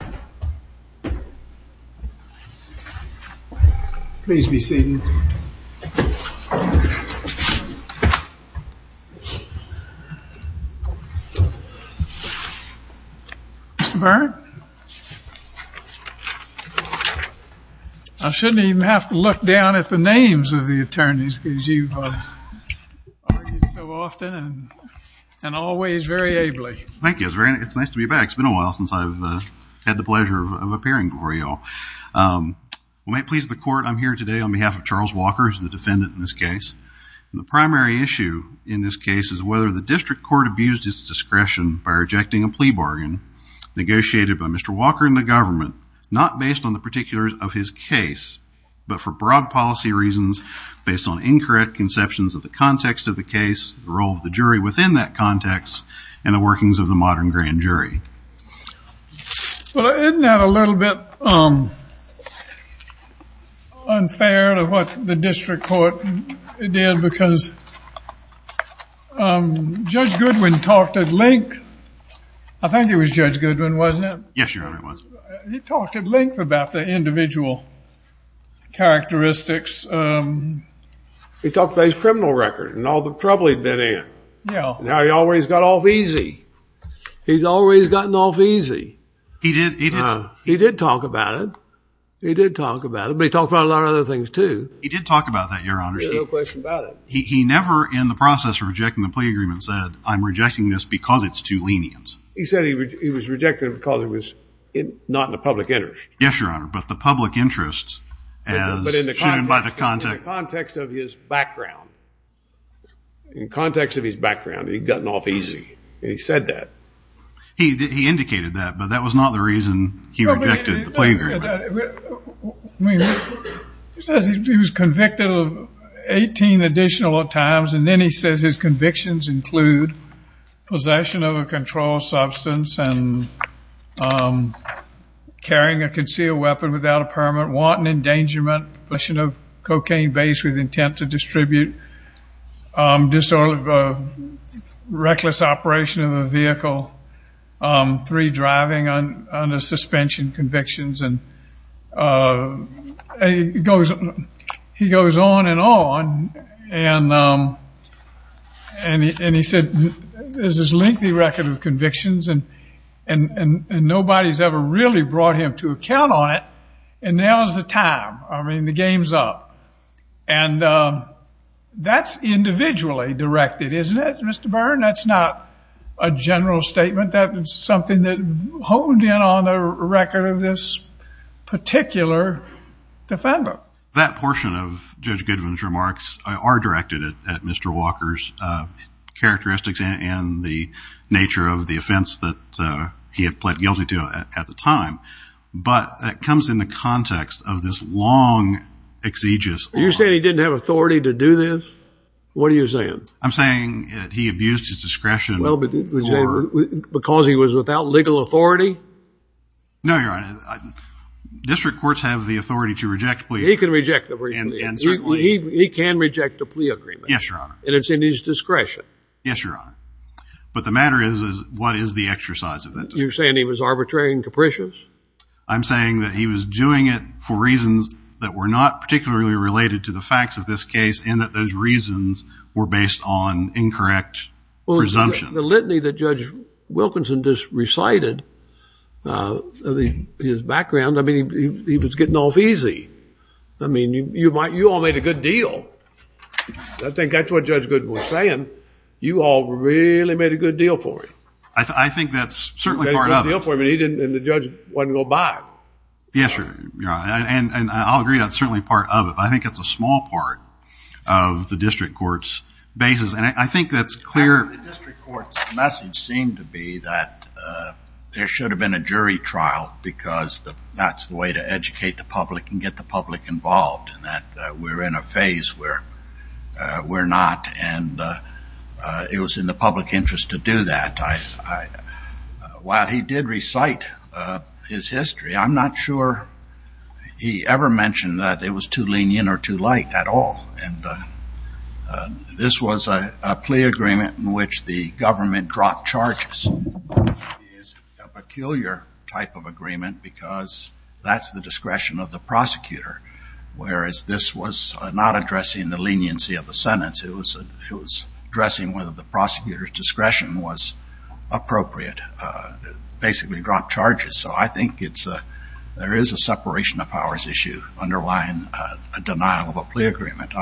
I should not even have to look down at the names of the attorneys because you have argued so often and always very ably. Thank you. It's nice to be back. It's been a while since I've had the pleasure of appearing for you all. Well, may it please the court, I'm here today on behalf of Charles Walker, who's the defendant in this case. And the primary issue in this case is whether the district court abused its discretion by rejecting a plea bargain negotiated by Mr. Walker and the government, not based on the particulars of his case, but for broad policy reasons based on incorrect conceptions of the context of the case, the role of the jury within that context, and the workings of the modern grand jury. Well, isn't that a little bit unfair to what the district court did because Judge Goodwin talked at length, I think it was Judge Goodwin, wasn't it? Yes, Your Honor, it was. He talked at length about the individual characteristics. He talked about his criminal record and all the trouble he'd been in and how he always got off easy. He's always gotten off easy. He did. He did. He did talk about it. He did talk about it. But he talked about a lot of other things, too. He did talk about that, Your Honor. There's no question about it. He never in the process of rejecting the plea agreement said, I'm rejecting this because it's too lenient. He said he was rejecting it because it was not in the public interest. Yes, Your Honor. But the public interest as shown by the context. But in the context of his background. In context of his background, he'd gotten off easy. He said that. He indicated that, but that was not the reason he rejected the plea agreement. He says he was convicted of 18 additional times, and then he says his convictions include possession of a controlled substance and carrying a concealed weapon without a permit, wanton endangerment, possession of cocaine based with intent to distribute, disorder of reckless operation of a vehicle, three driving under suspension convictions. And he goes on and on. And he said, there's this lengthy record of convictions and nobody's ever really brought him to account on it. And now's the time. I mean, the game's up. And that's individually directed, isn't it, Mr. Byrne? That's not a general statement. That is something that honed in on the record of this particular defendant. That portion of Judge Goodwin's remarks are directed at Mr. Walker's characteristics and the nature of the offense that he had pled guilty to at the time. But that comes in the context of this long, exegesis. You're saying he didn't have authority to do this? What are you saying? I'm saying that he abused his discretion. No, Your Honor. District courts have the authority to reject a plea agreement. He can reject a plea agreement. He can reject a plea agreement. Yes, Your Honor. And it's in his discretion. Yes, Your Honor. But the matter is, what is the exercise of that discretion? You're saying he was arbitrary and capricious? I'm saying that he was doing it for reasons that were not particularly related to the facts of this case and that those reasons were based on incorrect presumptions. Well, the litany that Judge Wilkinson just recited, his background, I mean, he was getting off easy. I mean, you all made a good deal. I think that's what Judge Goodwin was saying. You all really made a good deal for him. I think that's certainly part of it. You made a good deal for him and the judge wasn't going to buy it. Yes, Your Honor. And I'll agree that's certainly part of it. But I think it's a small part of the district court's basis. And I think that's clear. The district court's message seemed to be that there should have been a jury trial because that's the way to educate the public and get the public involved, and that we're in a phase where we're not. And it was in the public interest to do that. While he did recite his history, I'm not sure he ever mentioned that it was too lenient or too light at all. And this was a plea agreement in which the government dropped charges. It's a peculiar type of agreement because that's the discretion of the prosecutor, whereas this was not addressing the leniency of the sentence. It was addressing whether the prosecutor's discretion was appropriate. Basically dropped charges. So I think there is a separation of powers issue underlying a denial of a plea agreement.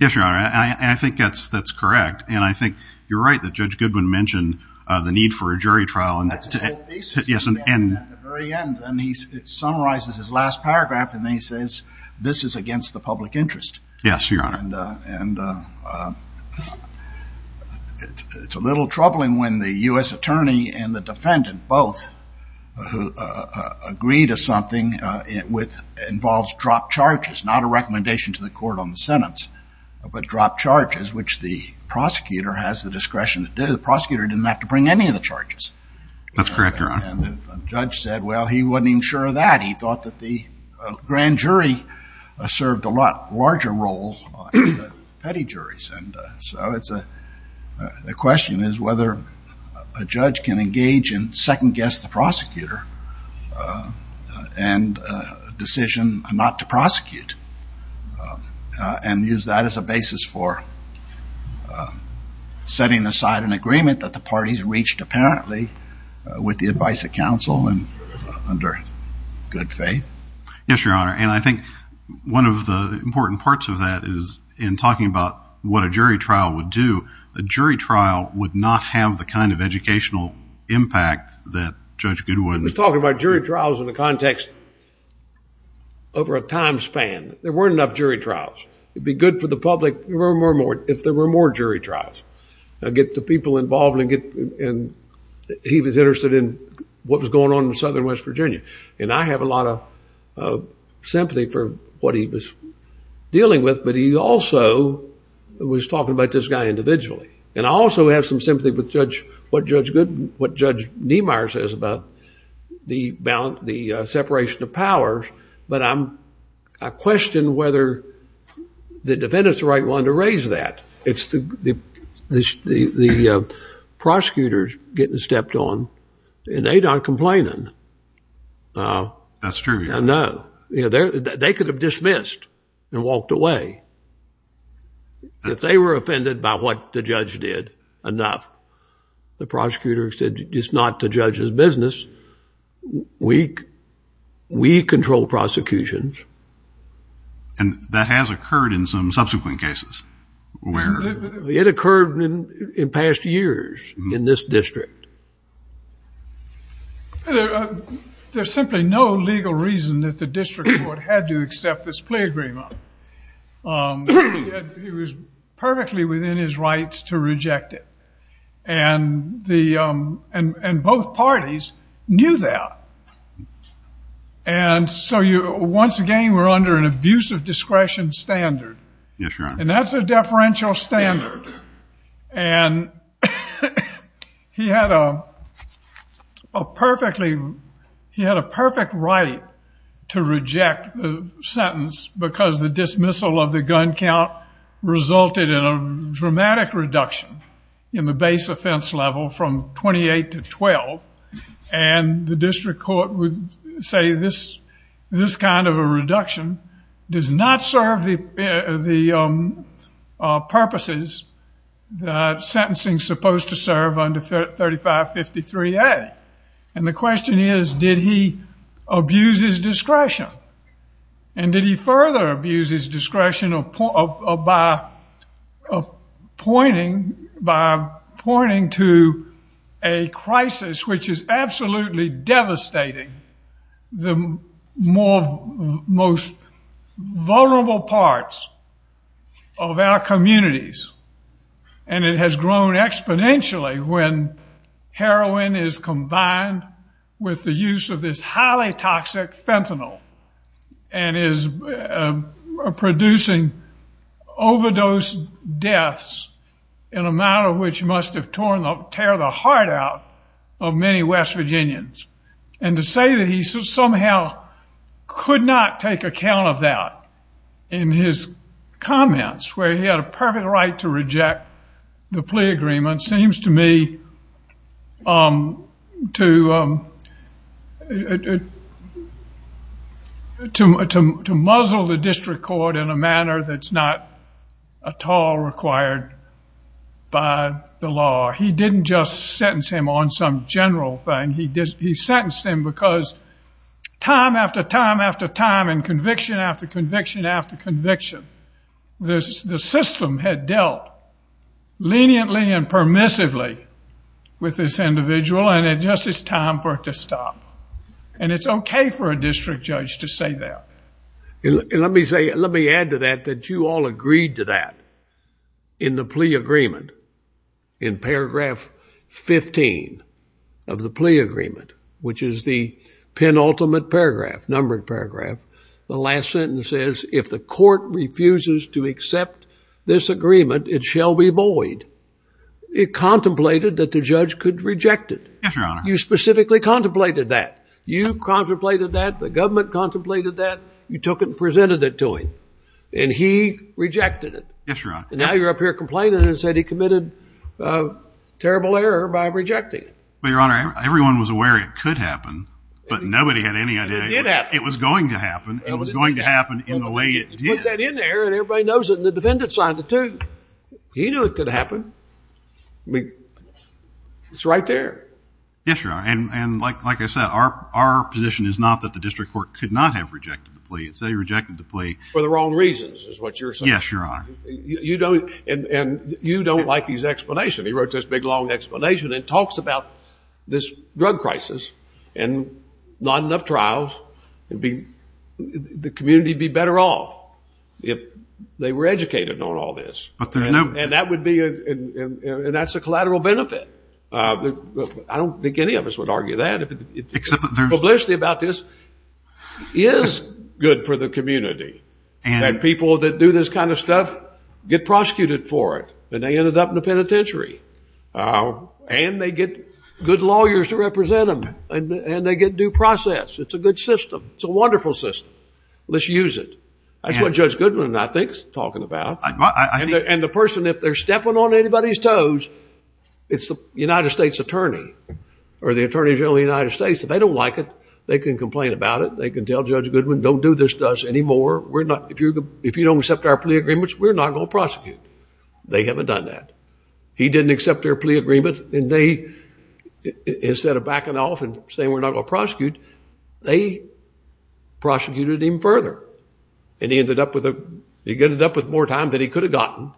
Yes, Your Honor. And I think that's correct. And I think you're right that Judge Goodwin mentioned the need for a jury trial. And that's the thesis he had at the very end. And he summarizes his last paragraph. And then he says, this is against the public interest. Yes, Your Honor. And it's a little troubling when the US attorney and the defendant both agree to something which involves dropped charges, not a recommendation to the court on the sentence, but dropped charges, which the prosecutor has the discretion to do. The prosecutor didn't have to bring any of the charges. That's correct, Your Honor. And the judge said, well, he wasn't even sure of that. He thought that the grand jury served a lot larger role than the petty juries. And so the question is whether a judge can engage and second guess the prosecutor and a decision not to prosecute and use that as a basis for setting aside an agreement that the parties reached apparently with the advice of counsel and under good faith. Yes, Your Honor. And I think one of the important parts of that is in talking about what a jury trial would do, a jury trial would not have the kind of educational impact that Judge Goodwin- He's talking about jury trials in the context over a time span. There weren't enough jury trials. It'd be good for the public if there were more jury trials. I get the people involved and he was interested in what was going on in Southern West Virginia. And I have a lot of sympathy for what he was dealing with, but he also was talking about this guy individually. And I also have some sympathy with Judge, what Judge Goodwin, what Judge Niemeyer says about the separation of powers. But I'm, I question whether the defendants are the right one to raise that. It's the prosecutors getting stepped on and they're not complaining. That's true, Your Honor. I know. You know, they could have dismissed and walked away. If they were offended by what the judge did enough, the prosecutor said, it's not the judge's business. We, we control prosecutions. And that has occurred in some subsequent cases where- It occurred in past years in this district. There's simply no legal reason that the district court had to accept this plea agreement. He was perfectly within his rights to reject it. And the, and, and both parties knew that. And so you, once again, we're under an abuse of discretion standard. Yes, Your Honor. And that's a deferential standard. And he had a perfectly, he had a perfect right to reject the sentence because the dismissal of the gun count resulted in a dramatic reduction in the base offense level from 28 to 12. And the district court would say this, this kind of a reduction does not serve the, the purposes that sentencing's supposed to serve under 3553A. And the question is, did he abuse his discretion? And did he further abuse his discretion of, of, of, of pointing, by pointing to a crisis which is absolutely devastating the more, most vulnerable parts of our communities. And it has grown exponentially when heroin is combined with the use of this highly toxic fentanyl and is producing overdose deaths in a manner which must have torn up, tear the heart out of many West Virginians. And to say that he somehow could not take account of that in his comments, where he had a perfect right to reject the plea agreement seems to me to, to muzzle the district court in a manner that's not at all required by the law. He didn't just sentence him on some general thing. He sentenced him because time after time after time and conviction after conviction after conviction, the system had dealt leniently and permissively with this and it's time for it to stop. And it's okay for a district judge to say that. And let me say, let me add to that, that you all agreed to that in the plea agreement. In paragraph 15 of the plea agreement, which is the penultimate paragraph, numbered paragraph, the last sentence says, if the court refuses to accept this agreement, it shall be void. It contemplated that the judge could reject it. You specifically contemplated that. You contemplated that. The government contemplated that. You took it and presented it to him. And he rejected it. Now you're up here complaining and said he committed terrible error by rejecting it. But your honor, everyone was aware it could happen, but nobody had any idea it was going to happen and it was going to happen in the way it did. You put that in there and everybody knows it and the defendant signed it too. He knew it could happen. I mean, it's right there. Yes, your honor. And like I said, our position is not that the district court could not have rejected the plea. It's that he rejected the plea. For the wrong reasons is what you're saying. Yes, your honor. You don't, and you don't like his explanation. He wrote this big, long explanation and talks about this drug crisis and not enough trials, the community would be better off if they were educated on all this. And that's a collateral benefit. I don't think any of us would argue that. Publicity about this is good for the community and people that do this kind of stuff get prosecuted for it and they ended up in the penitentiary and they get good lawyers to represent them and they get due process. It's a good system. It's a wonderful system. Let's use it. That's what Judge Goodwin, I think, is talking about. And the person, if they're stepping on anybody's toes, it's the United States attorney or the attorney general of the United States. If they don't like it, they can complain about it. They can tell Judge Goodwin, don't do this to us anymore. If you don't accept our plea agreements, we're not going to prosecute. They haven't done that. He didn't accept their plea agreement and they, instead of backing off and saying we're not going to prosecute, they prosecuted him further. And he ended up with more time than he could have gotten,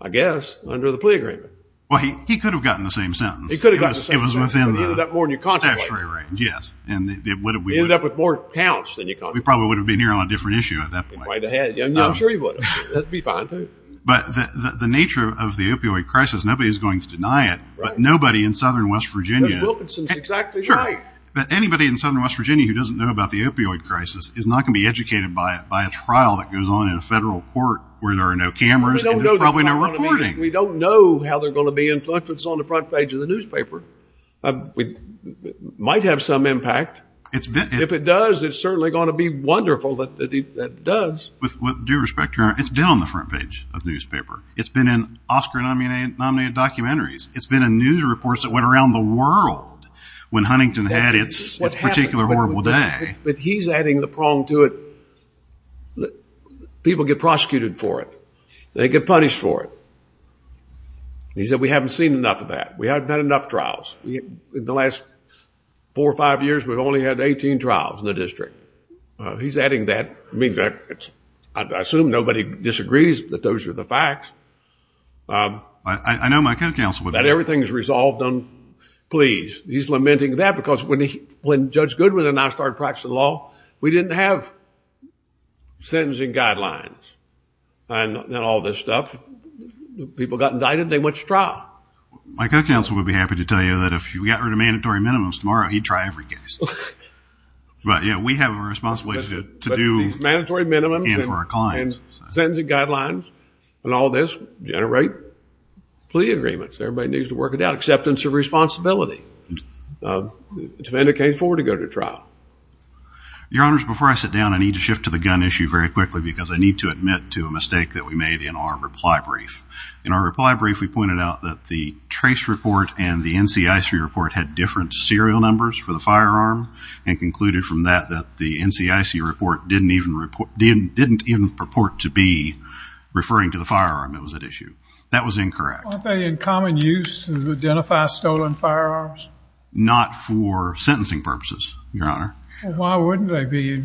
I guess, under the plea agreement. Well, he could have gotten the same sentence. He could have gotten the same sentence. It was within the statutory range. He ended up more in your contact range. Yes. He ended up with more counts than your contact range. We probably would have been here on a different issue at that point. You might have had. I'm sure he would have. That would be fine, too. But the nature of the opioid crisis, nobody's going to deny it, but nobody in southern West Virginia... Judge Wilkinson's exactly right. Sure. But anybody in southern West Virginia who doesn't know about the opioid crisis is not going to be educated by a trial that goes on in a federal court where there are no cameras and there's probably no reporting. We don't know how they're going to be influenced. It's on the front page of the newspaper. It might have some impact. If it does, it's certainly going to be wonderful that it does. With due respect, Your Honor, it's been on the front page of the newspaper. It's been in Oscar-nominated documentaries. It's been in news reports that went around the world when Huntington had its particular horrible day. But he's adding the prong to it. People get prosecuted for it. They get punished for it. He said, we haven't seen enough of that. We haven't had enough trials. In the last four or five years, we've only had 18 trials in the district. He's adding that. I mean, I assume nobody disagrees that those are the facts. I know my co-counsel would. That everything's resolved on pleas. He's lamenting that because when Judge Goodwin and I started practicing law, we didn't have sentencing guidelines and all this stuff. People got indicted. They went to trial. My co-counsel would be happy to tell you that if we got rid of mandatory minimums tomorrow, he'd try every case. But yeah, we have a responsibility to do... But these mandatory minimums and sentencing guidelines and all this generate plea agreements. Everybody needs to work it out. Acceptance of responsibility. It's mandatory for him to go to trial. Your Honors, before I sit down, I need to shift to the gun issue very quickly because I need to admit to a mistake that we made in our reply brief. In our reply brief, we pointed out that the trace report and the NCIC report had different serial numbers for the firearm and concluded from that that the NCIC report didn't even report to be referring to the firearm that was at issue. That was incorrect. Aren't they in common use to identify stolen firearms? Not for sentencing purposes, Your Honor. Why wouldn't they be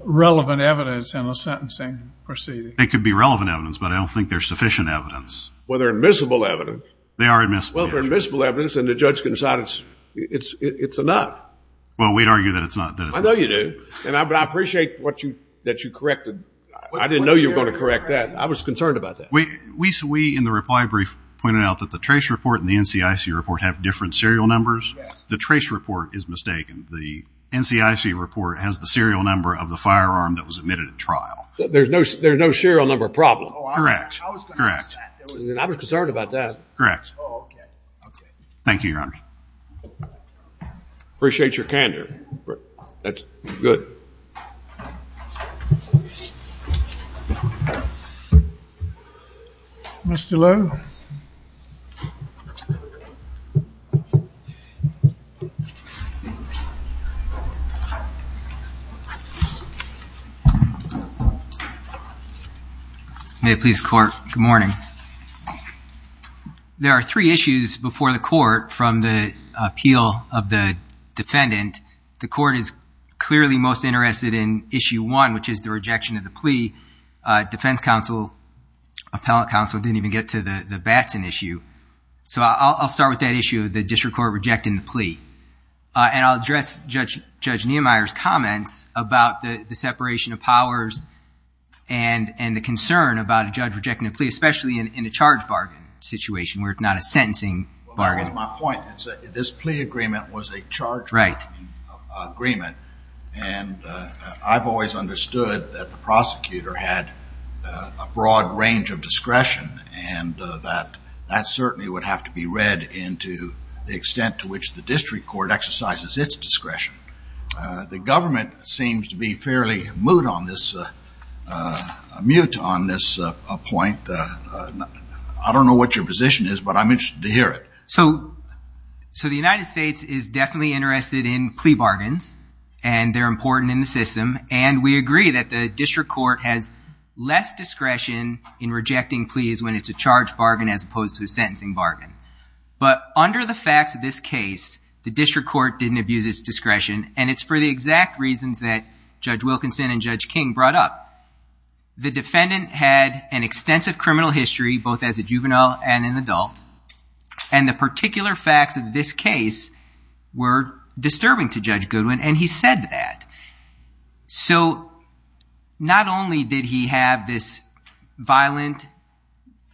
relevant evidence in a sentencing proceeding? It could be relevant evidence, but I don't think there's sufficient evidence. Well, they're admissible evidence. They are admissible evidence. Well, they're admissible evidence and the judge can decide it's enough. Well, we'd argue that it's not. I know you do, but I appreciate that you corrected... I didn't know you were going to correct that. I was concerned about that. We, in the reply brief, pointed out that the trace report and the NCIC report have different serial numbers. The trace report is mistaken. The NCIC report has the serial number of the firearm that was admitted at trial. There's no serial number problem? Correct. Correct. I was concerned about that. Correct. Oh, okay. Okay. Thank you, Your Honor. Appreciate your candor. That's good. Mr. Lowe. May it please the court. Good morning. There are three issues before the court from the appeal of the defendant. The court is clearly most interested in issue one, which is the rejection of the plea. Defense counsel, appellate counsel didn't even get to the Batson issue. So I'll start with that issue of the district court rejecting the plea. And I'll address Judge Nehemiah's comments about the separation of powers and the concern about a judge rejecting a plea, especially in a charge bargain situation where it's not a sentencing bargain. My point is that this plea agreement was a charge bargaining agreement and I've always understood that the prosecutor had a broad range of discretion and that that certainly would have to be read into the extent to which the district court exercises its discretion. The government seems to be fairly moot on this, mute on this point. I don't know what your position is, but I'm interested to hear it. So the United States is definitely interested in plea bargains and they're important in the system and we agree that the district court has less discretion in rejecting pleas when it's a charge bargain as opposed to a sentencing bargain. But under the facts of this case, the district court didn't abuse its discretion and it's for the exact reasons that Judge Wilkinson and Judge King brought up. The defendant had an extensive criminal history both as a juvenile and an adult and the particular facts of this case were disturbing to Judge Goodwin and he said that. So not only did he have this violent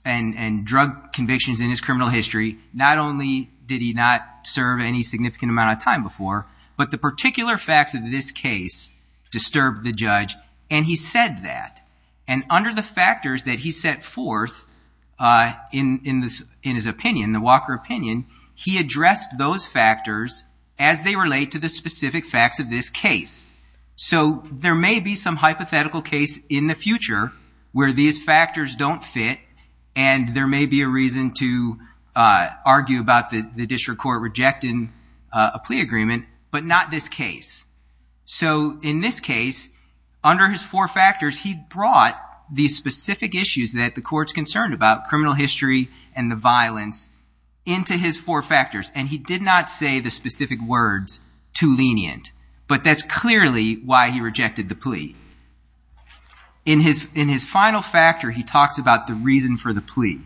and drug convictions in his criminal history, not only did he not serve any significant amount of time before, but the particular facts of this case disturbed the judge and he said that. And under the factors that he set forth in his opinion, the Walker opinion, he addressed those factors as they relate to the specific facts of this case. So there may be some hypothetical case in the future where these factors don't fit and there may be a reason to argue about the district court rejecting a plea agreement, but not this case. So in this case, under his four factors, he brought these specific issues that the court's concerned about, criminal history and the violence, into his four factors and he did not say the specific words, too lenient, but that's clearly why he rejected the plea. In his final factor, he talks about the reason for the plea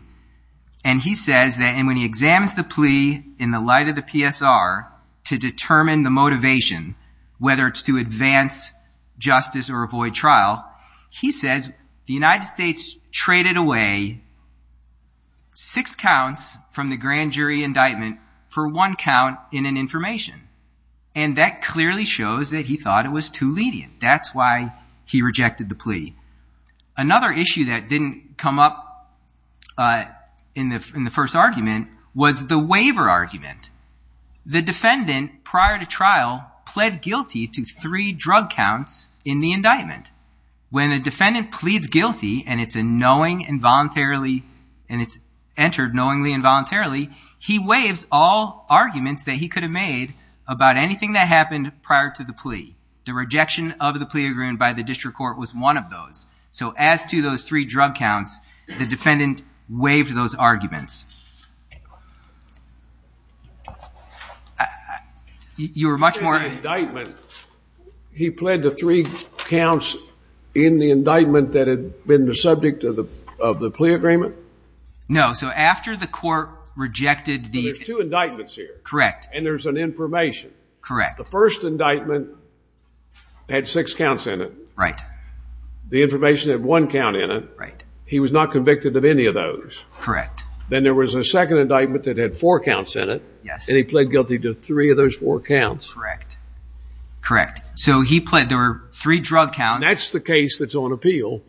and he says that when he examines the plea in the light of the PSR to determine the motivation, whether it's to advance justice or avoid trial, he says the United States traded away six counts from the grand jury indictment for one count in an information and that clearly shows that he thought it was too lenient. That's why he rejected the plea. Another issue that didn't come up in the first argument was the waiver argument. The defendant prior to trial pled guilty to three drug counts in the indictment. When a defendant pleads guilty and it's a knowing involuntarily and it's entered knowingly involuntarily, he waives all arguments that he could have made about anything that happened prior to the plea. The rejection of the plea agreement by the district court was one of those. So as to those three drug counts, the defendant waived those arguments. You were much more... In the indictment, he pled the three counts in the indictment that had been the subject of the plea agreement? No. So after the court rejected the... There's two indictments here. Correct. And there's an information. Correct. The first indictment had six counts in it. Right. The information had one count in it. Right. He was not convicted of any of those. Correct. Then there was a second indictment that had four counts in it. Yes. And he pled guilty to three of those four counts. Correct. Correct. So he pled... There were three drug counts. That's the case that's on appeal.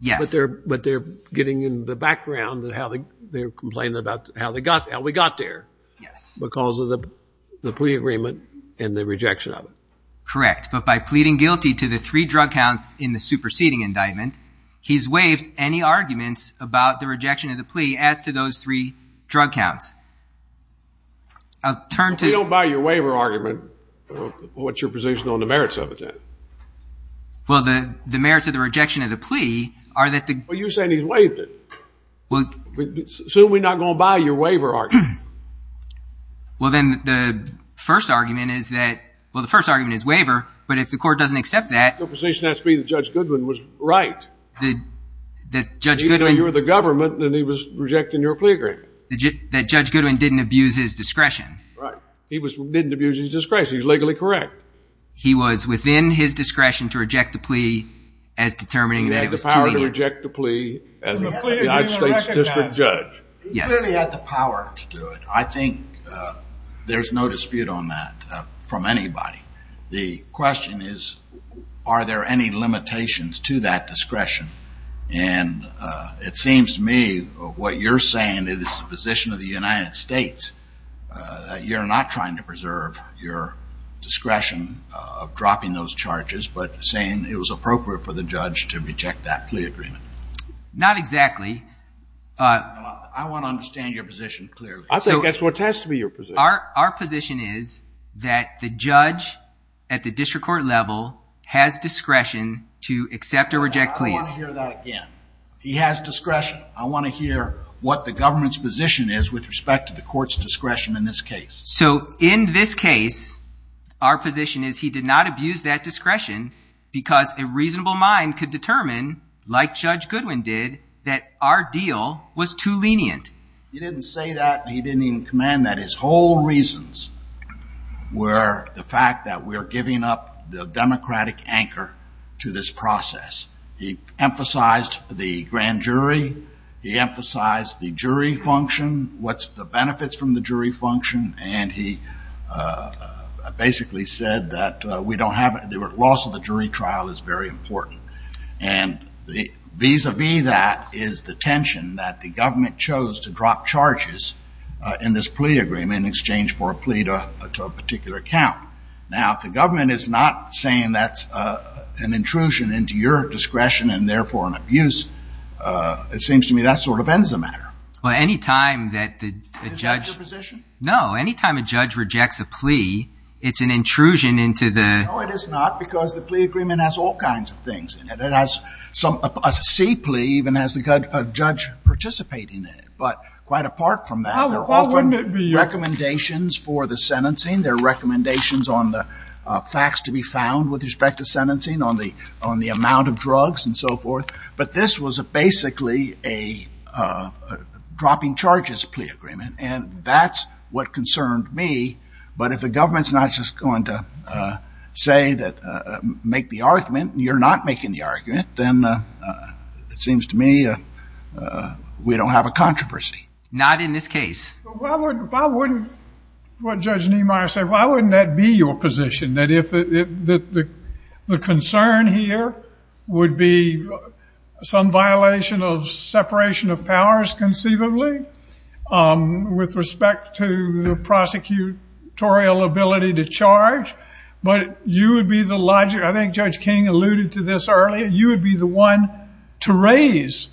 Yes. But they're getting in the background of how they're complaining about how we got there Yes. Because of the plea agreement and the rejection of it. Correct. But by pleading guilty to the three drug counts in the superseding indictment, he's waived any arguments about the rejection of the plea as to those three drug counts. I'll turn to... If we don't buy your waiver argument, what's your position on the merits of it then? Well the merits of the rejection of the plea are that the... Well you're saying he's waived it. Assume we're not going to buy your waiver argument. Well then the first argument is that... Well the first argument is waiver, but if the court doesn't accept that... Your position has to be that Judge Goodwin was right. That Judge Goodwin... Even though you were the government and he was rejecting your plea agreement. That Judge Goodwin didn't abuse his discretion. Right. He didn't abuse his discretion. He was legally correct. He was within his discretion to reject the plea as determining that it was too lenient. He had the power to reject the plea as a... Plea agreement recognized. United States District Judge. Yes. He clearly had the power to do it. I think there's no dispute on that from anybody. The question is, are there any limitations to that discretion? And it seems to me what you're saying is the position of the United States. You're not trying to preserve your discretion of dropping those charges, but saying it was appropriate for the judge to reject that plea agreement. Not exactly. I want to understand your position clearly. I think that's what has to be your position. Our position is that the judge at the district court level has discretion to accept or reject pleas. I want to hear that again. He has discretion. I want to hear what the government's position is with respect to the court's discretion in this case. So in this case, our position is he did not abuse that discretion because a reasonable mind could determine, like Judge Goodwin did, that our deal was too lenient. He didn't say that. He didn't even command that. His whole reasons were the fact that we're giving up the democratic anchor to this process. He emphasized the grand jury. He emphasized the jury function, what's the benefits from the jury function, and he basically said that loss of the jury trial is very important. And vis-a-vis that is the tension that the government chose to drop charges in this plea agreement in exchange for a plea to a particular account. Now, if the government is not saying that's an intrusion into your discretion and therefore an abuse, it seems to me that sort of ends the matter. Well, any time that the judge... Is that your position? No. Any time a judge rejects a plea, it's an intrusion into the... No, it is not, because the plea agreement has all kinds of things in it. It has some... A C plea even has a judge participating in it. But quite apart from that, there are often recommendations for the sentencing. There are recommendations on the facts to be found with respect to sentencing on the amount of drugs and so forth. But this was basically a dropping charges plea agreement, and that's what concerned me. But if the government's not just going to say that... Make the argument, you're not making the argument, then it seems to me we don't have a controversy. Not in this case. Well, why wouldn't... Why wouldn't... What Judge Niemeyer said, why wouldn't that be your position? That if the concern here would be some violation of separation of powers conceivably with respect to the prosecutorial ability to charge, but you would be the logic... I think Judge King alluded to this earlier. You would be the one to raise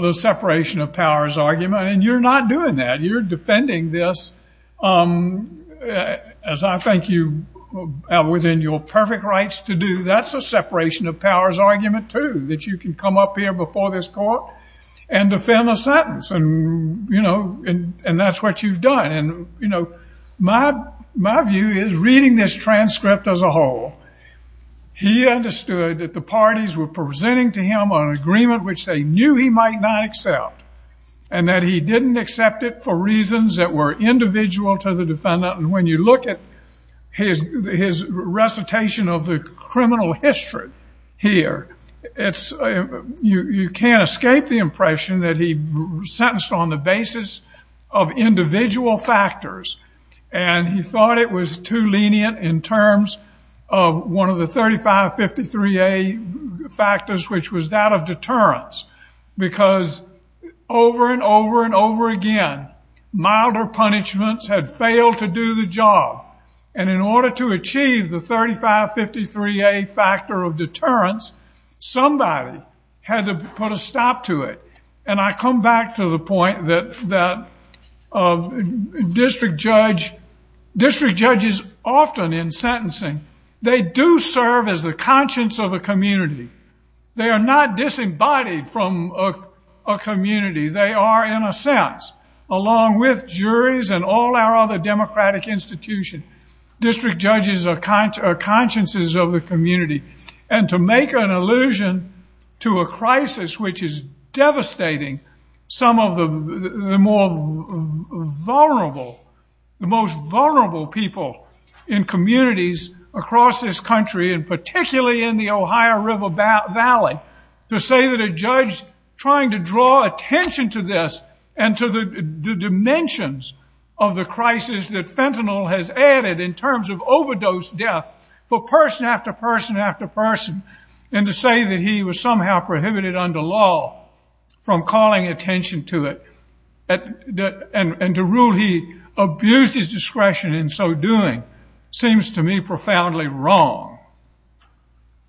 the separation of powers argument, and you're not doing that. You're defending this as I think you have within your perfect rights to do. That's a separation of powers argument too, that you can come up here before this court and defend the sentence, and that's what you've done. My view is reading this transcript as a whole, he understood that the parties were presenting to him on an agreement which they knew he might not accept, and that he didn't accept it for reasons that were individual to the defendant. And when you look at his recitation of the criminal history here, you can't escape the impression that he sentenced on the basis of individual factors. And he thought it was too lenient in terms of one of the 3553A factors, which was that over and over again, milder punishments had failed to do the job. And in order to achieve the 3553A factor of deterrence, somebody had to put a stop to it. And I come back to the point that district judges often in sentencing, they do serve as the conscience of a community. They are not disembodied from a community. They are, in a sense, along with juries and all our other democratic institutions, district judges are consciences of the community. And to make an allusion to a crisis which is devastating some of the most vulnerable people in communities across this country, and particularly in the Ohio River Valley, to say that a judge trying to draw attention to this and to the dimensions of the crisis that fentanyl has added in terms of overdose death for person after person after person, and to say that he was somehow prohibited under law from calling attention to it, and to rule he abused his discretion in so doing, seems to me profoundly wrong.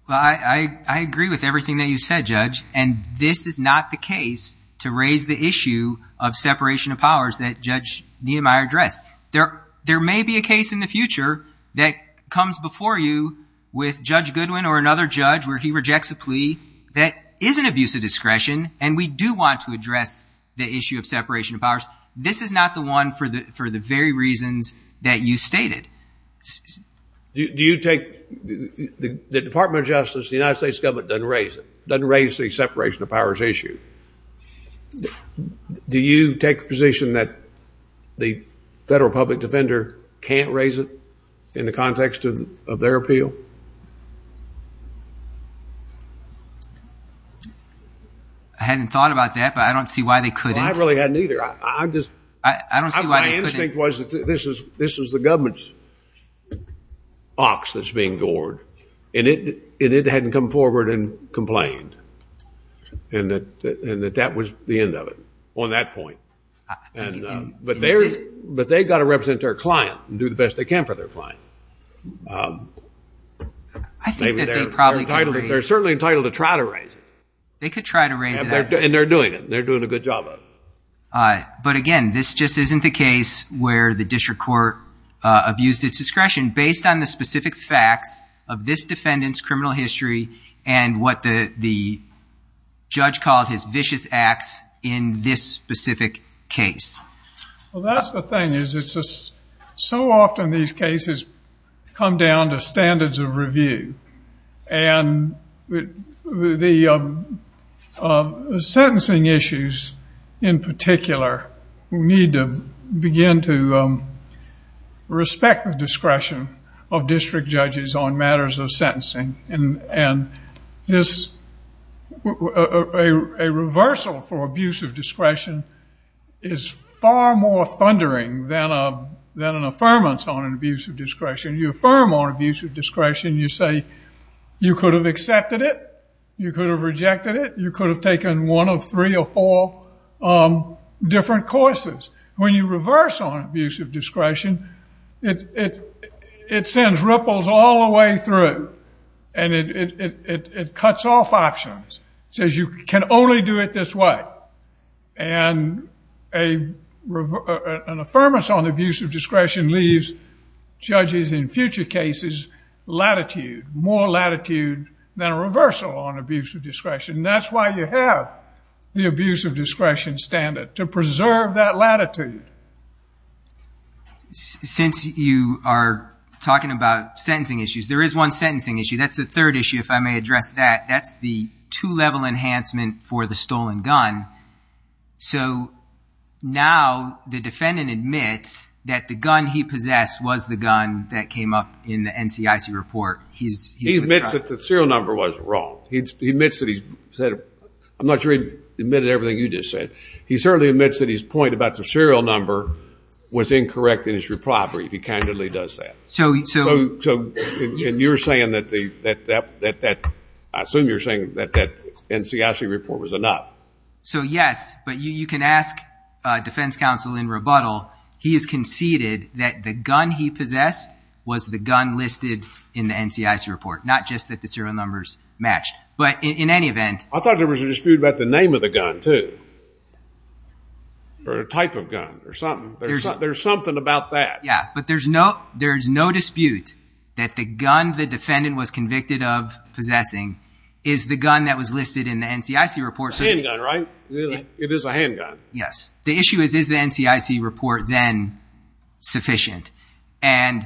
Well, I agree with everything that you said, Judge, and this is not the case to raise the issue of separation of powers that Judge Niemeyer addressed. There may be a case in the future that comes before you with Judge Goodwin or another judge where he rejects a plea that is an abuse of discretion and we do want to address the issue of separation of powers. This is not the one for the very reasons that you stated. Do you take the Department of Justice, the United States government, doesn't raise it? Doesn't raise the separation of powers issue? Do you take the position that the federal public defender can't raise it in the context of their appeal? I hadn't thought about that, but I don't see why they couldn't. I really hadn't either. I just... I don't see why they couldn't. My instinct was that this was the government's ox that's being gored, and it hadn't come forward and complained, and that that was the end of it on that point, but they've got to represent their client and do the best they can for their client. I think that they probably could raise it. They're certainly entitled to try to raise it. They could try to raise it. And they're doing it. They're doing a good job of it. But again, this just isn't the case where the district court abused its discretion based on the specific facts of this defendant's criminal history and what the judge called his vicious acts in this specific case. Well, that's the thing is it's just so often these cases come down to standards of review. And the sentencing issues in particular need to begin to respect the discretion of district judges on matters of sentencing. And a reversal for abuse of discretion is far more thundering than an affirmance on an abuse of discretion. You affirm on abuse of discretion. You say you could have accepted it. You could have rejected it. You could have taken one of three or four different courses. When you reverse on abuse of discretion, it sends ripples all the way through. And it cuts off options, says you can only do it this way. And an affirmance on the abuse of discretion leaves judges in future cases latitude, more latitude than a reversal on abuse of discretion. And that's why you have the abuse of discretion standard, to preserve that latitude. Since you are talking about sentencing issues, there is one sentencing issue. That's the third issue, if I may address that. That's the two-level enhancement for the stolen gun. So now the defendant admits that the gun he possessed was the gun that came up in the NCIC report. He admits that the serial number wasn't wrong. He admits that he said, I'm not sure he admitted everything you just said. He certainly admits that his point about the serial number was incorrect in his repropery, if he candidly does that. So you're saying that the NCIC report was enough. So yes. But you can ask defense counsel in rebuttal. He has conceded that the gun he possessed was the gun listed in the NCIC report, not just that the serial numbers match. But in any event. I thought there was a dispute about the name of the gun, too. Or a type of gun, or something. There's something about that. But there's no dispute that the gun the defendant was convicted of possessing is the gun that was listed in the NCIC report. It's a handgun, right? It is a handgun. Yes. The issue is, is the NCIC report then sufficient? And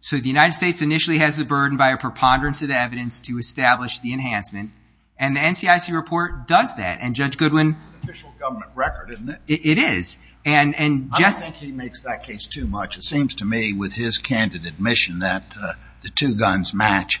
so the United States initially has the burden by a preponderance of the evidence to establish the enhancement. And the NCIC report does that. And Judge Goodwin. It's an official government record, isn't it? It is. I don't think he makes that case too much. It seems to me, with his candid admission, that the two guns match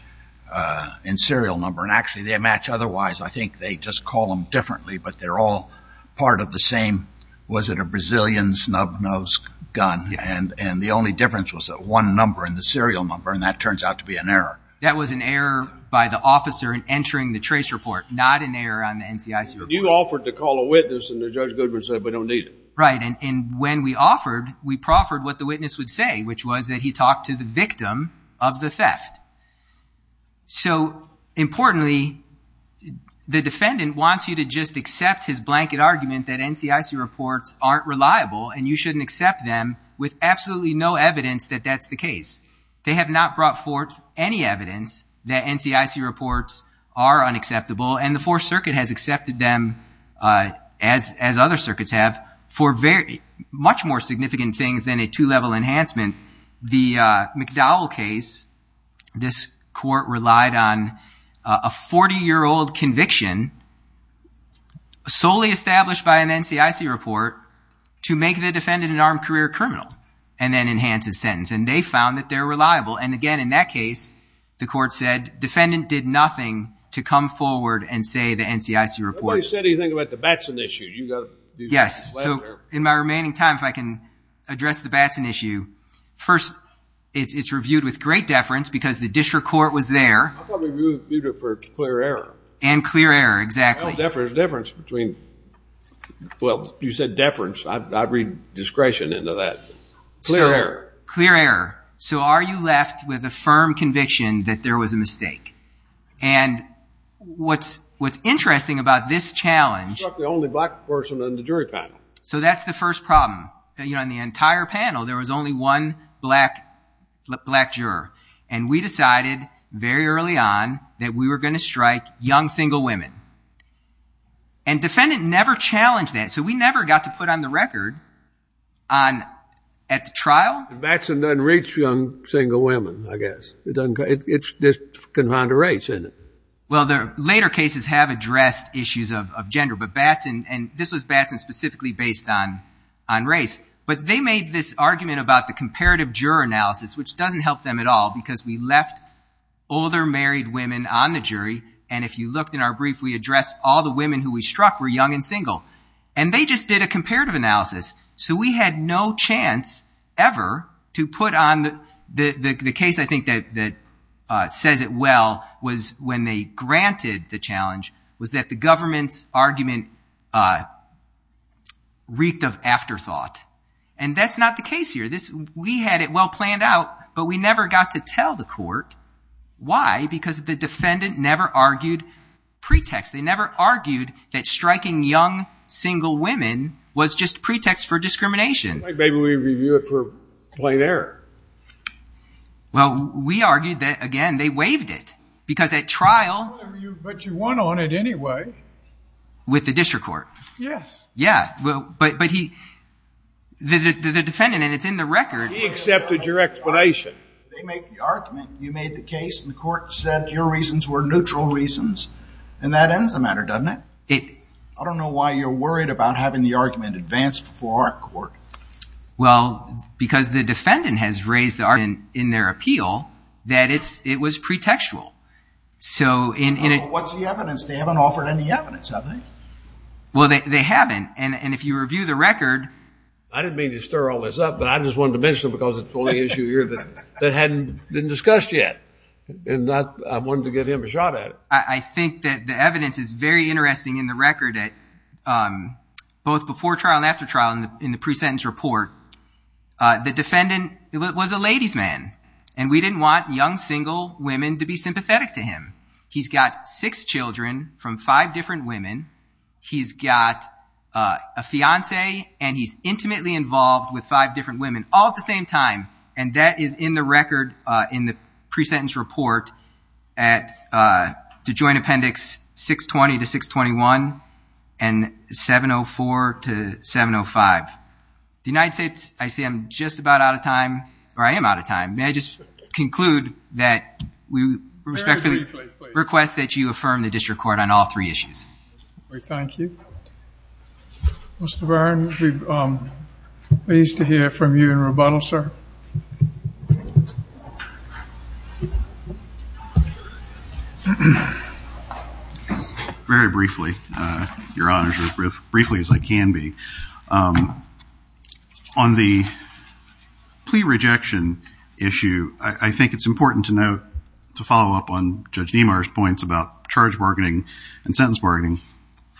in serial number. And actually, they match otherwise. I think they just call them differently. But they're all part of the same, was it a Brazilian snub-nosed gun? And the only difference was that one number in the serial number. And that turns out to be an error. That was an error by the officer in entering the trace report. Not an error on the NCIC report. You offered to call a witness. And Judge Goodwin said, we don't need it. Right. And when we offered, we proffered what the witness would say, which was that he talked to the victim of the theft. So importantly, the defendant wants you to just accept his blanket argument that NCIC reports aren't reliable. And you shouldn't accept them with absolutely no evidence that that's the case. They have not brought forth any evidence that NCIC reports are unacceptable. And the Fourth Circuit has accepted them, as other circuits have, for much more significant things than a two-level enhancement. The McDowell case, this court relied on a 40-year-old conviction solely established by an NCIC report to make the defendant an armed career criminal and then enhance his sentence. And they found that they're reliable. And again, in that case, the court said, defendant did nothing to come forward and say the NCIC report. Nobody said anything about the Batson issue. You've got to do something about it. Yes. So in my remaining time, if I can address the Batson issue. First, it's reviewed with great deference, because the district court was there. I thought we reviewed it for clear error. And clear error, exactly. Well, deference between, well, you said deference. I read discretion into that. Clear error. Clear error. So are you left with a firm conviction that there was a mistake? And what's interesting about this challenge. You struck the only black person on the jury panel. So that's the first problem. On the entire panel, there was only one black juror. And we decided very early on that we were going to strike young single women. And defendant never challenged that. So we never got to put on the record at the trial. Batson doesn't reach young single women, I guess. It doesn't. It's just confined to race, isn't it? Well, later cases have addressed issues of gender. But Batson, and this was Batson specifically based on race. But they made this argument about the comparative juror analysis, which doesn't help them at all. Because we left older married women on the jury. And if you looked in our brief, we addressed all the women who we struck were young and single. And they just did a comparative analysis. So we had no chance ever to put on the case, I think, that says it well was when they granted the challenge was that the government's argument reeked of afterthought. And that's not the case here. We had it well planned out. But we never got to tell the court. Why? Because the defendant never argued pretext. They never argued that striking young single women was just pretext for discrimination. Maybe we review it for plain error. Well, we argued that, again, they waived it. Because at trial. But you won on it anyway. With the district court. Yes. Yeah. But the defendant, and it's in the record. He accepted your explanation. They make the argument. You made the case. And the court said your reasons were neutral reasons. And that ends the matter, doesn't it? I don't know why you're worried about having the argument advanced before our court. Well, because the defendant has raised the argument in their appeal that it was pretextual. So in it. What's the evidence? They haven't offered any evidence, have they? Well, they haven't. And if you review the record. I didn't mean to stir all this up. But I just wanted to mention it, because it's the only issue here that hadn't been discussed yet. And I wanted to give him a shot at it. I think that the evidence is very interesting in the record at both before trial and after trial in the pre-sentence report. The defendant was a ladies' man. And we didn't want young, single women to be sympathetic to him. He's got six children from five different women. He's got a fiance. And he's intimately involved with five different women all at the same time. And that is in the record in the pre-sentence report at the joint appendix 620 to 621 and 704 to 705. The United States, I see I'm just about out of time. Or I am out of time. May I just conclude that we respectfully request that you affirm the district court on all three issues. Thank you. Mr. Byrne, we're pleased to hear from you in rebuttal, sir. Thank you. Very briefly, Your Honor, as briefly as I can be. On the plea rejection issue, I think it's important to note, to follow up on Judge Niemeyer's points about charge bargaining and sentence bargaining,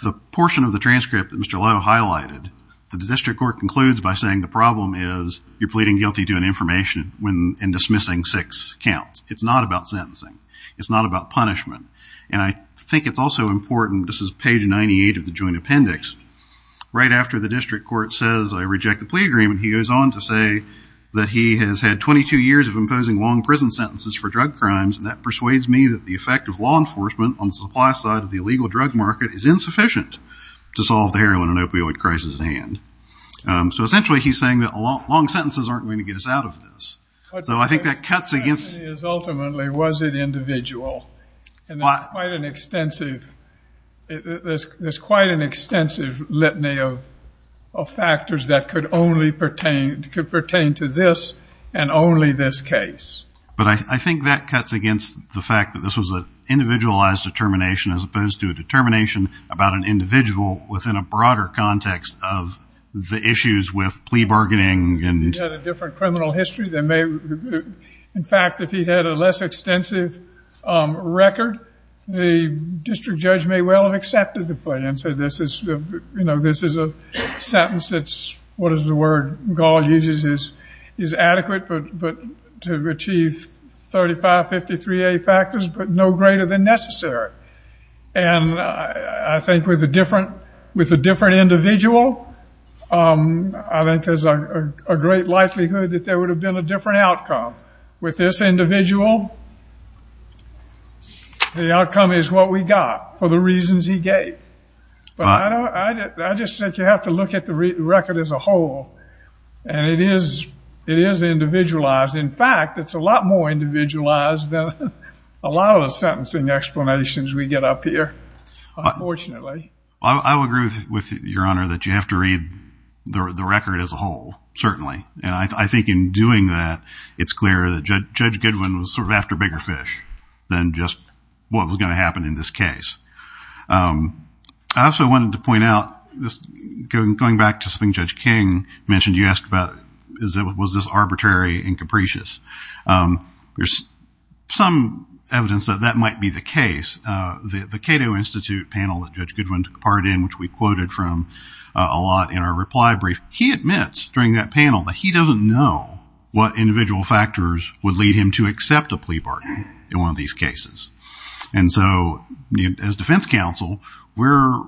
the portion of the transcript that Mr. Lowe highlighted, the district court concludes by saying the problem is you're pleading guilty to an information and dismissing six counts. It's not about sentencing. It's not about punishment. And I think it's also important, this is page 98 of the joint appendix, right after the district court says I reject the plea agreement, he goes on to say that he has had 22 years of imposing long prison sentences for drug crimes. And that persuades me that the effect of law enforcement on the supply side of the illegal drug market is insufficient to solve the heroin and opioid crisis at hand. So essentially, he's saying that long sentences aren't going to get us out of this. So I think that cuts against- Ultimately, was it individual? And there's quite an extensive litany of factors that could pertain to this and only this case. But I think that cuts against the fact that this was an individualized determination as opposed to a determination about an individual within a broader context of the issues with plea bargaining. Is that a different criminal history? In fact, if he had a less extensive record, the district judge may well have accepted the plea and said this is a sentence that's, what is the word, Gall uses is adequate to achieve 3553A factors, but no greater than necessary. And I think with a different individual, I think there's a great likelihood that there would have been a different outcome. With this individual, the outcome is what we got for the reasons he gave. But I just think you have to look at the record as a whole. And it is individualized. In fact, it's a lot more individualized than a lot of the sentencing explanations we get up here, unfortunately. I would agree with your honor that you have to read the record as a whole, certainly. And I think in doing that, it's clear that Judge Goodwin was sort of after bigger fish than just what was going to happen in this case. I also wanted to point out, going back to something Judge King mentioned, you asked about was this arbitrary and capricious. There's some evidence that that might be the case. The Cato Institute panel that Judge Goodwin took part in, which we quoted from a lot in our reply brief, he admits during that panel that he doesn't know what individual factors would lead him to accept a plea bargain in one of these cases. And so as defense counsel, we're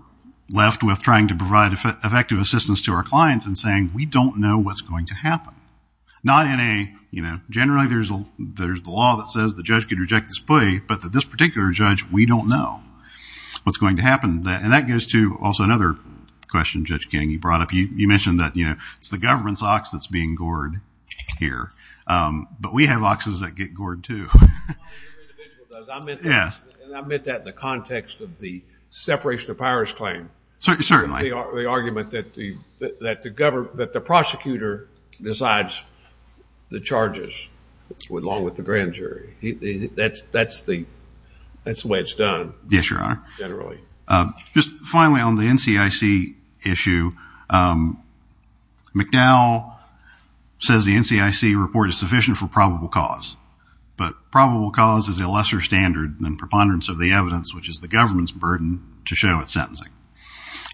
left with trying to provide effective assistance to our clients and saying we don't know what's going to happen. Not in a, generally there's the law that says the judge could reject this plea, but that this particular judge, we don't know what's going to happen. And that goes to also another question Judge King, you brought up. You mentioned that it's the government's ox that's being gored here. But we have oxes that get gored too. Well, your individual does. I meant that in the context of the separation of powers claim. Certainly. The argument that the prosecutor decides the charges along with the grand jury. That's the way it's done. Yes, Your Honor. Generally. Just finally on the NCIC issue, McDowell says the NCIC report is sufficient for probable cause. But probable cause is a lesser standard than preponderance of the evidence, which is the government's burden to show at sentencing.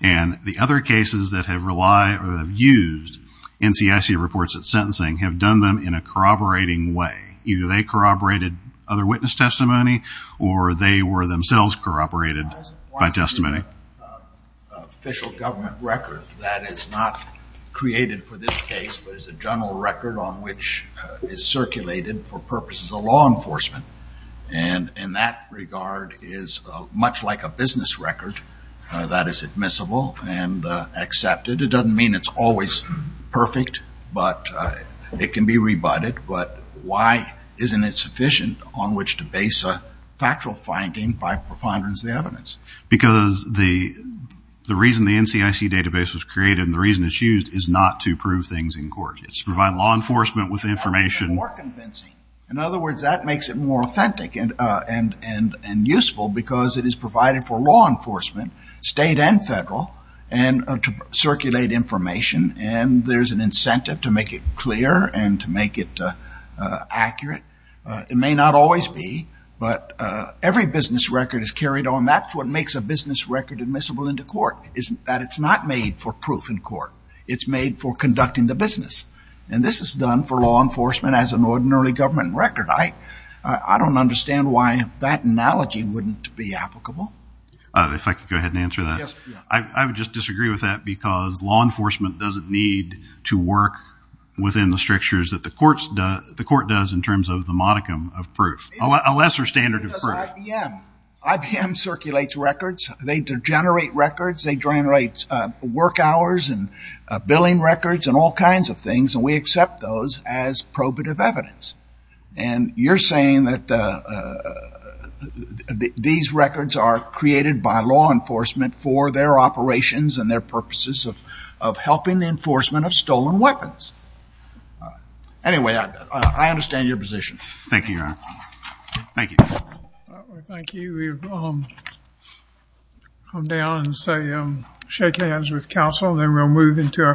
And the other cases that have relied or have used NCIC reports at sentencing have done them in a corroborating way. Either they corroborated other witness testimony or they were themselves corroborated by testimony. Official government record that is not created for this case, but is a general record on which is circulated for purposes of law enforcement. And in that regard is much like a business record that is admissible and accepted. It doesn't mean it's always perfect, but it can be rebutted. But why isn't it sufficient on which to base a factual finding by preponderance of the evidence? Because the reason the NCIC database was created and the reason it's used is not to prove things in court. It's to provide law enforcement with information. More convincing. In other words, that makes it more authentic and useful because it is provided for law enforcement, state and federal, to circulate information. And there's an incentive to make it clear and to make it accurate. It may not always be, but every business record is carried on. That's what makes a business record admissible into court is that it's not made for proof in court. It's made for conducting the business. And this is done for law enforcement as an ordinary government record. I don't understand why that analogy wouldn't be applicable. If I could go ahead and answer that. I would just disagree with that because law enforcement doesn't need to work within the strictures that the court does in terms of the modicum of proof. A lesser standard of proof. Because IBM circulates records. They generate records. They generate work hours and billing records and all kinds of things. And we accept those as probative evidence. And you're saying that these records are created by law enforcement for their operations and their purposes of helping the enforcement of stolen weapons. Anyway, I understand your position. Thank you, Your Honor. Thank you. Thank you. We'll come down and say shake hands with counsel and then we'll move into our final case.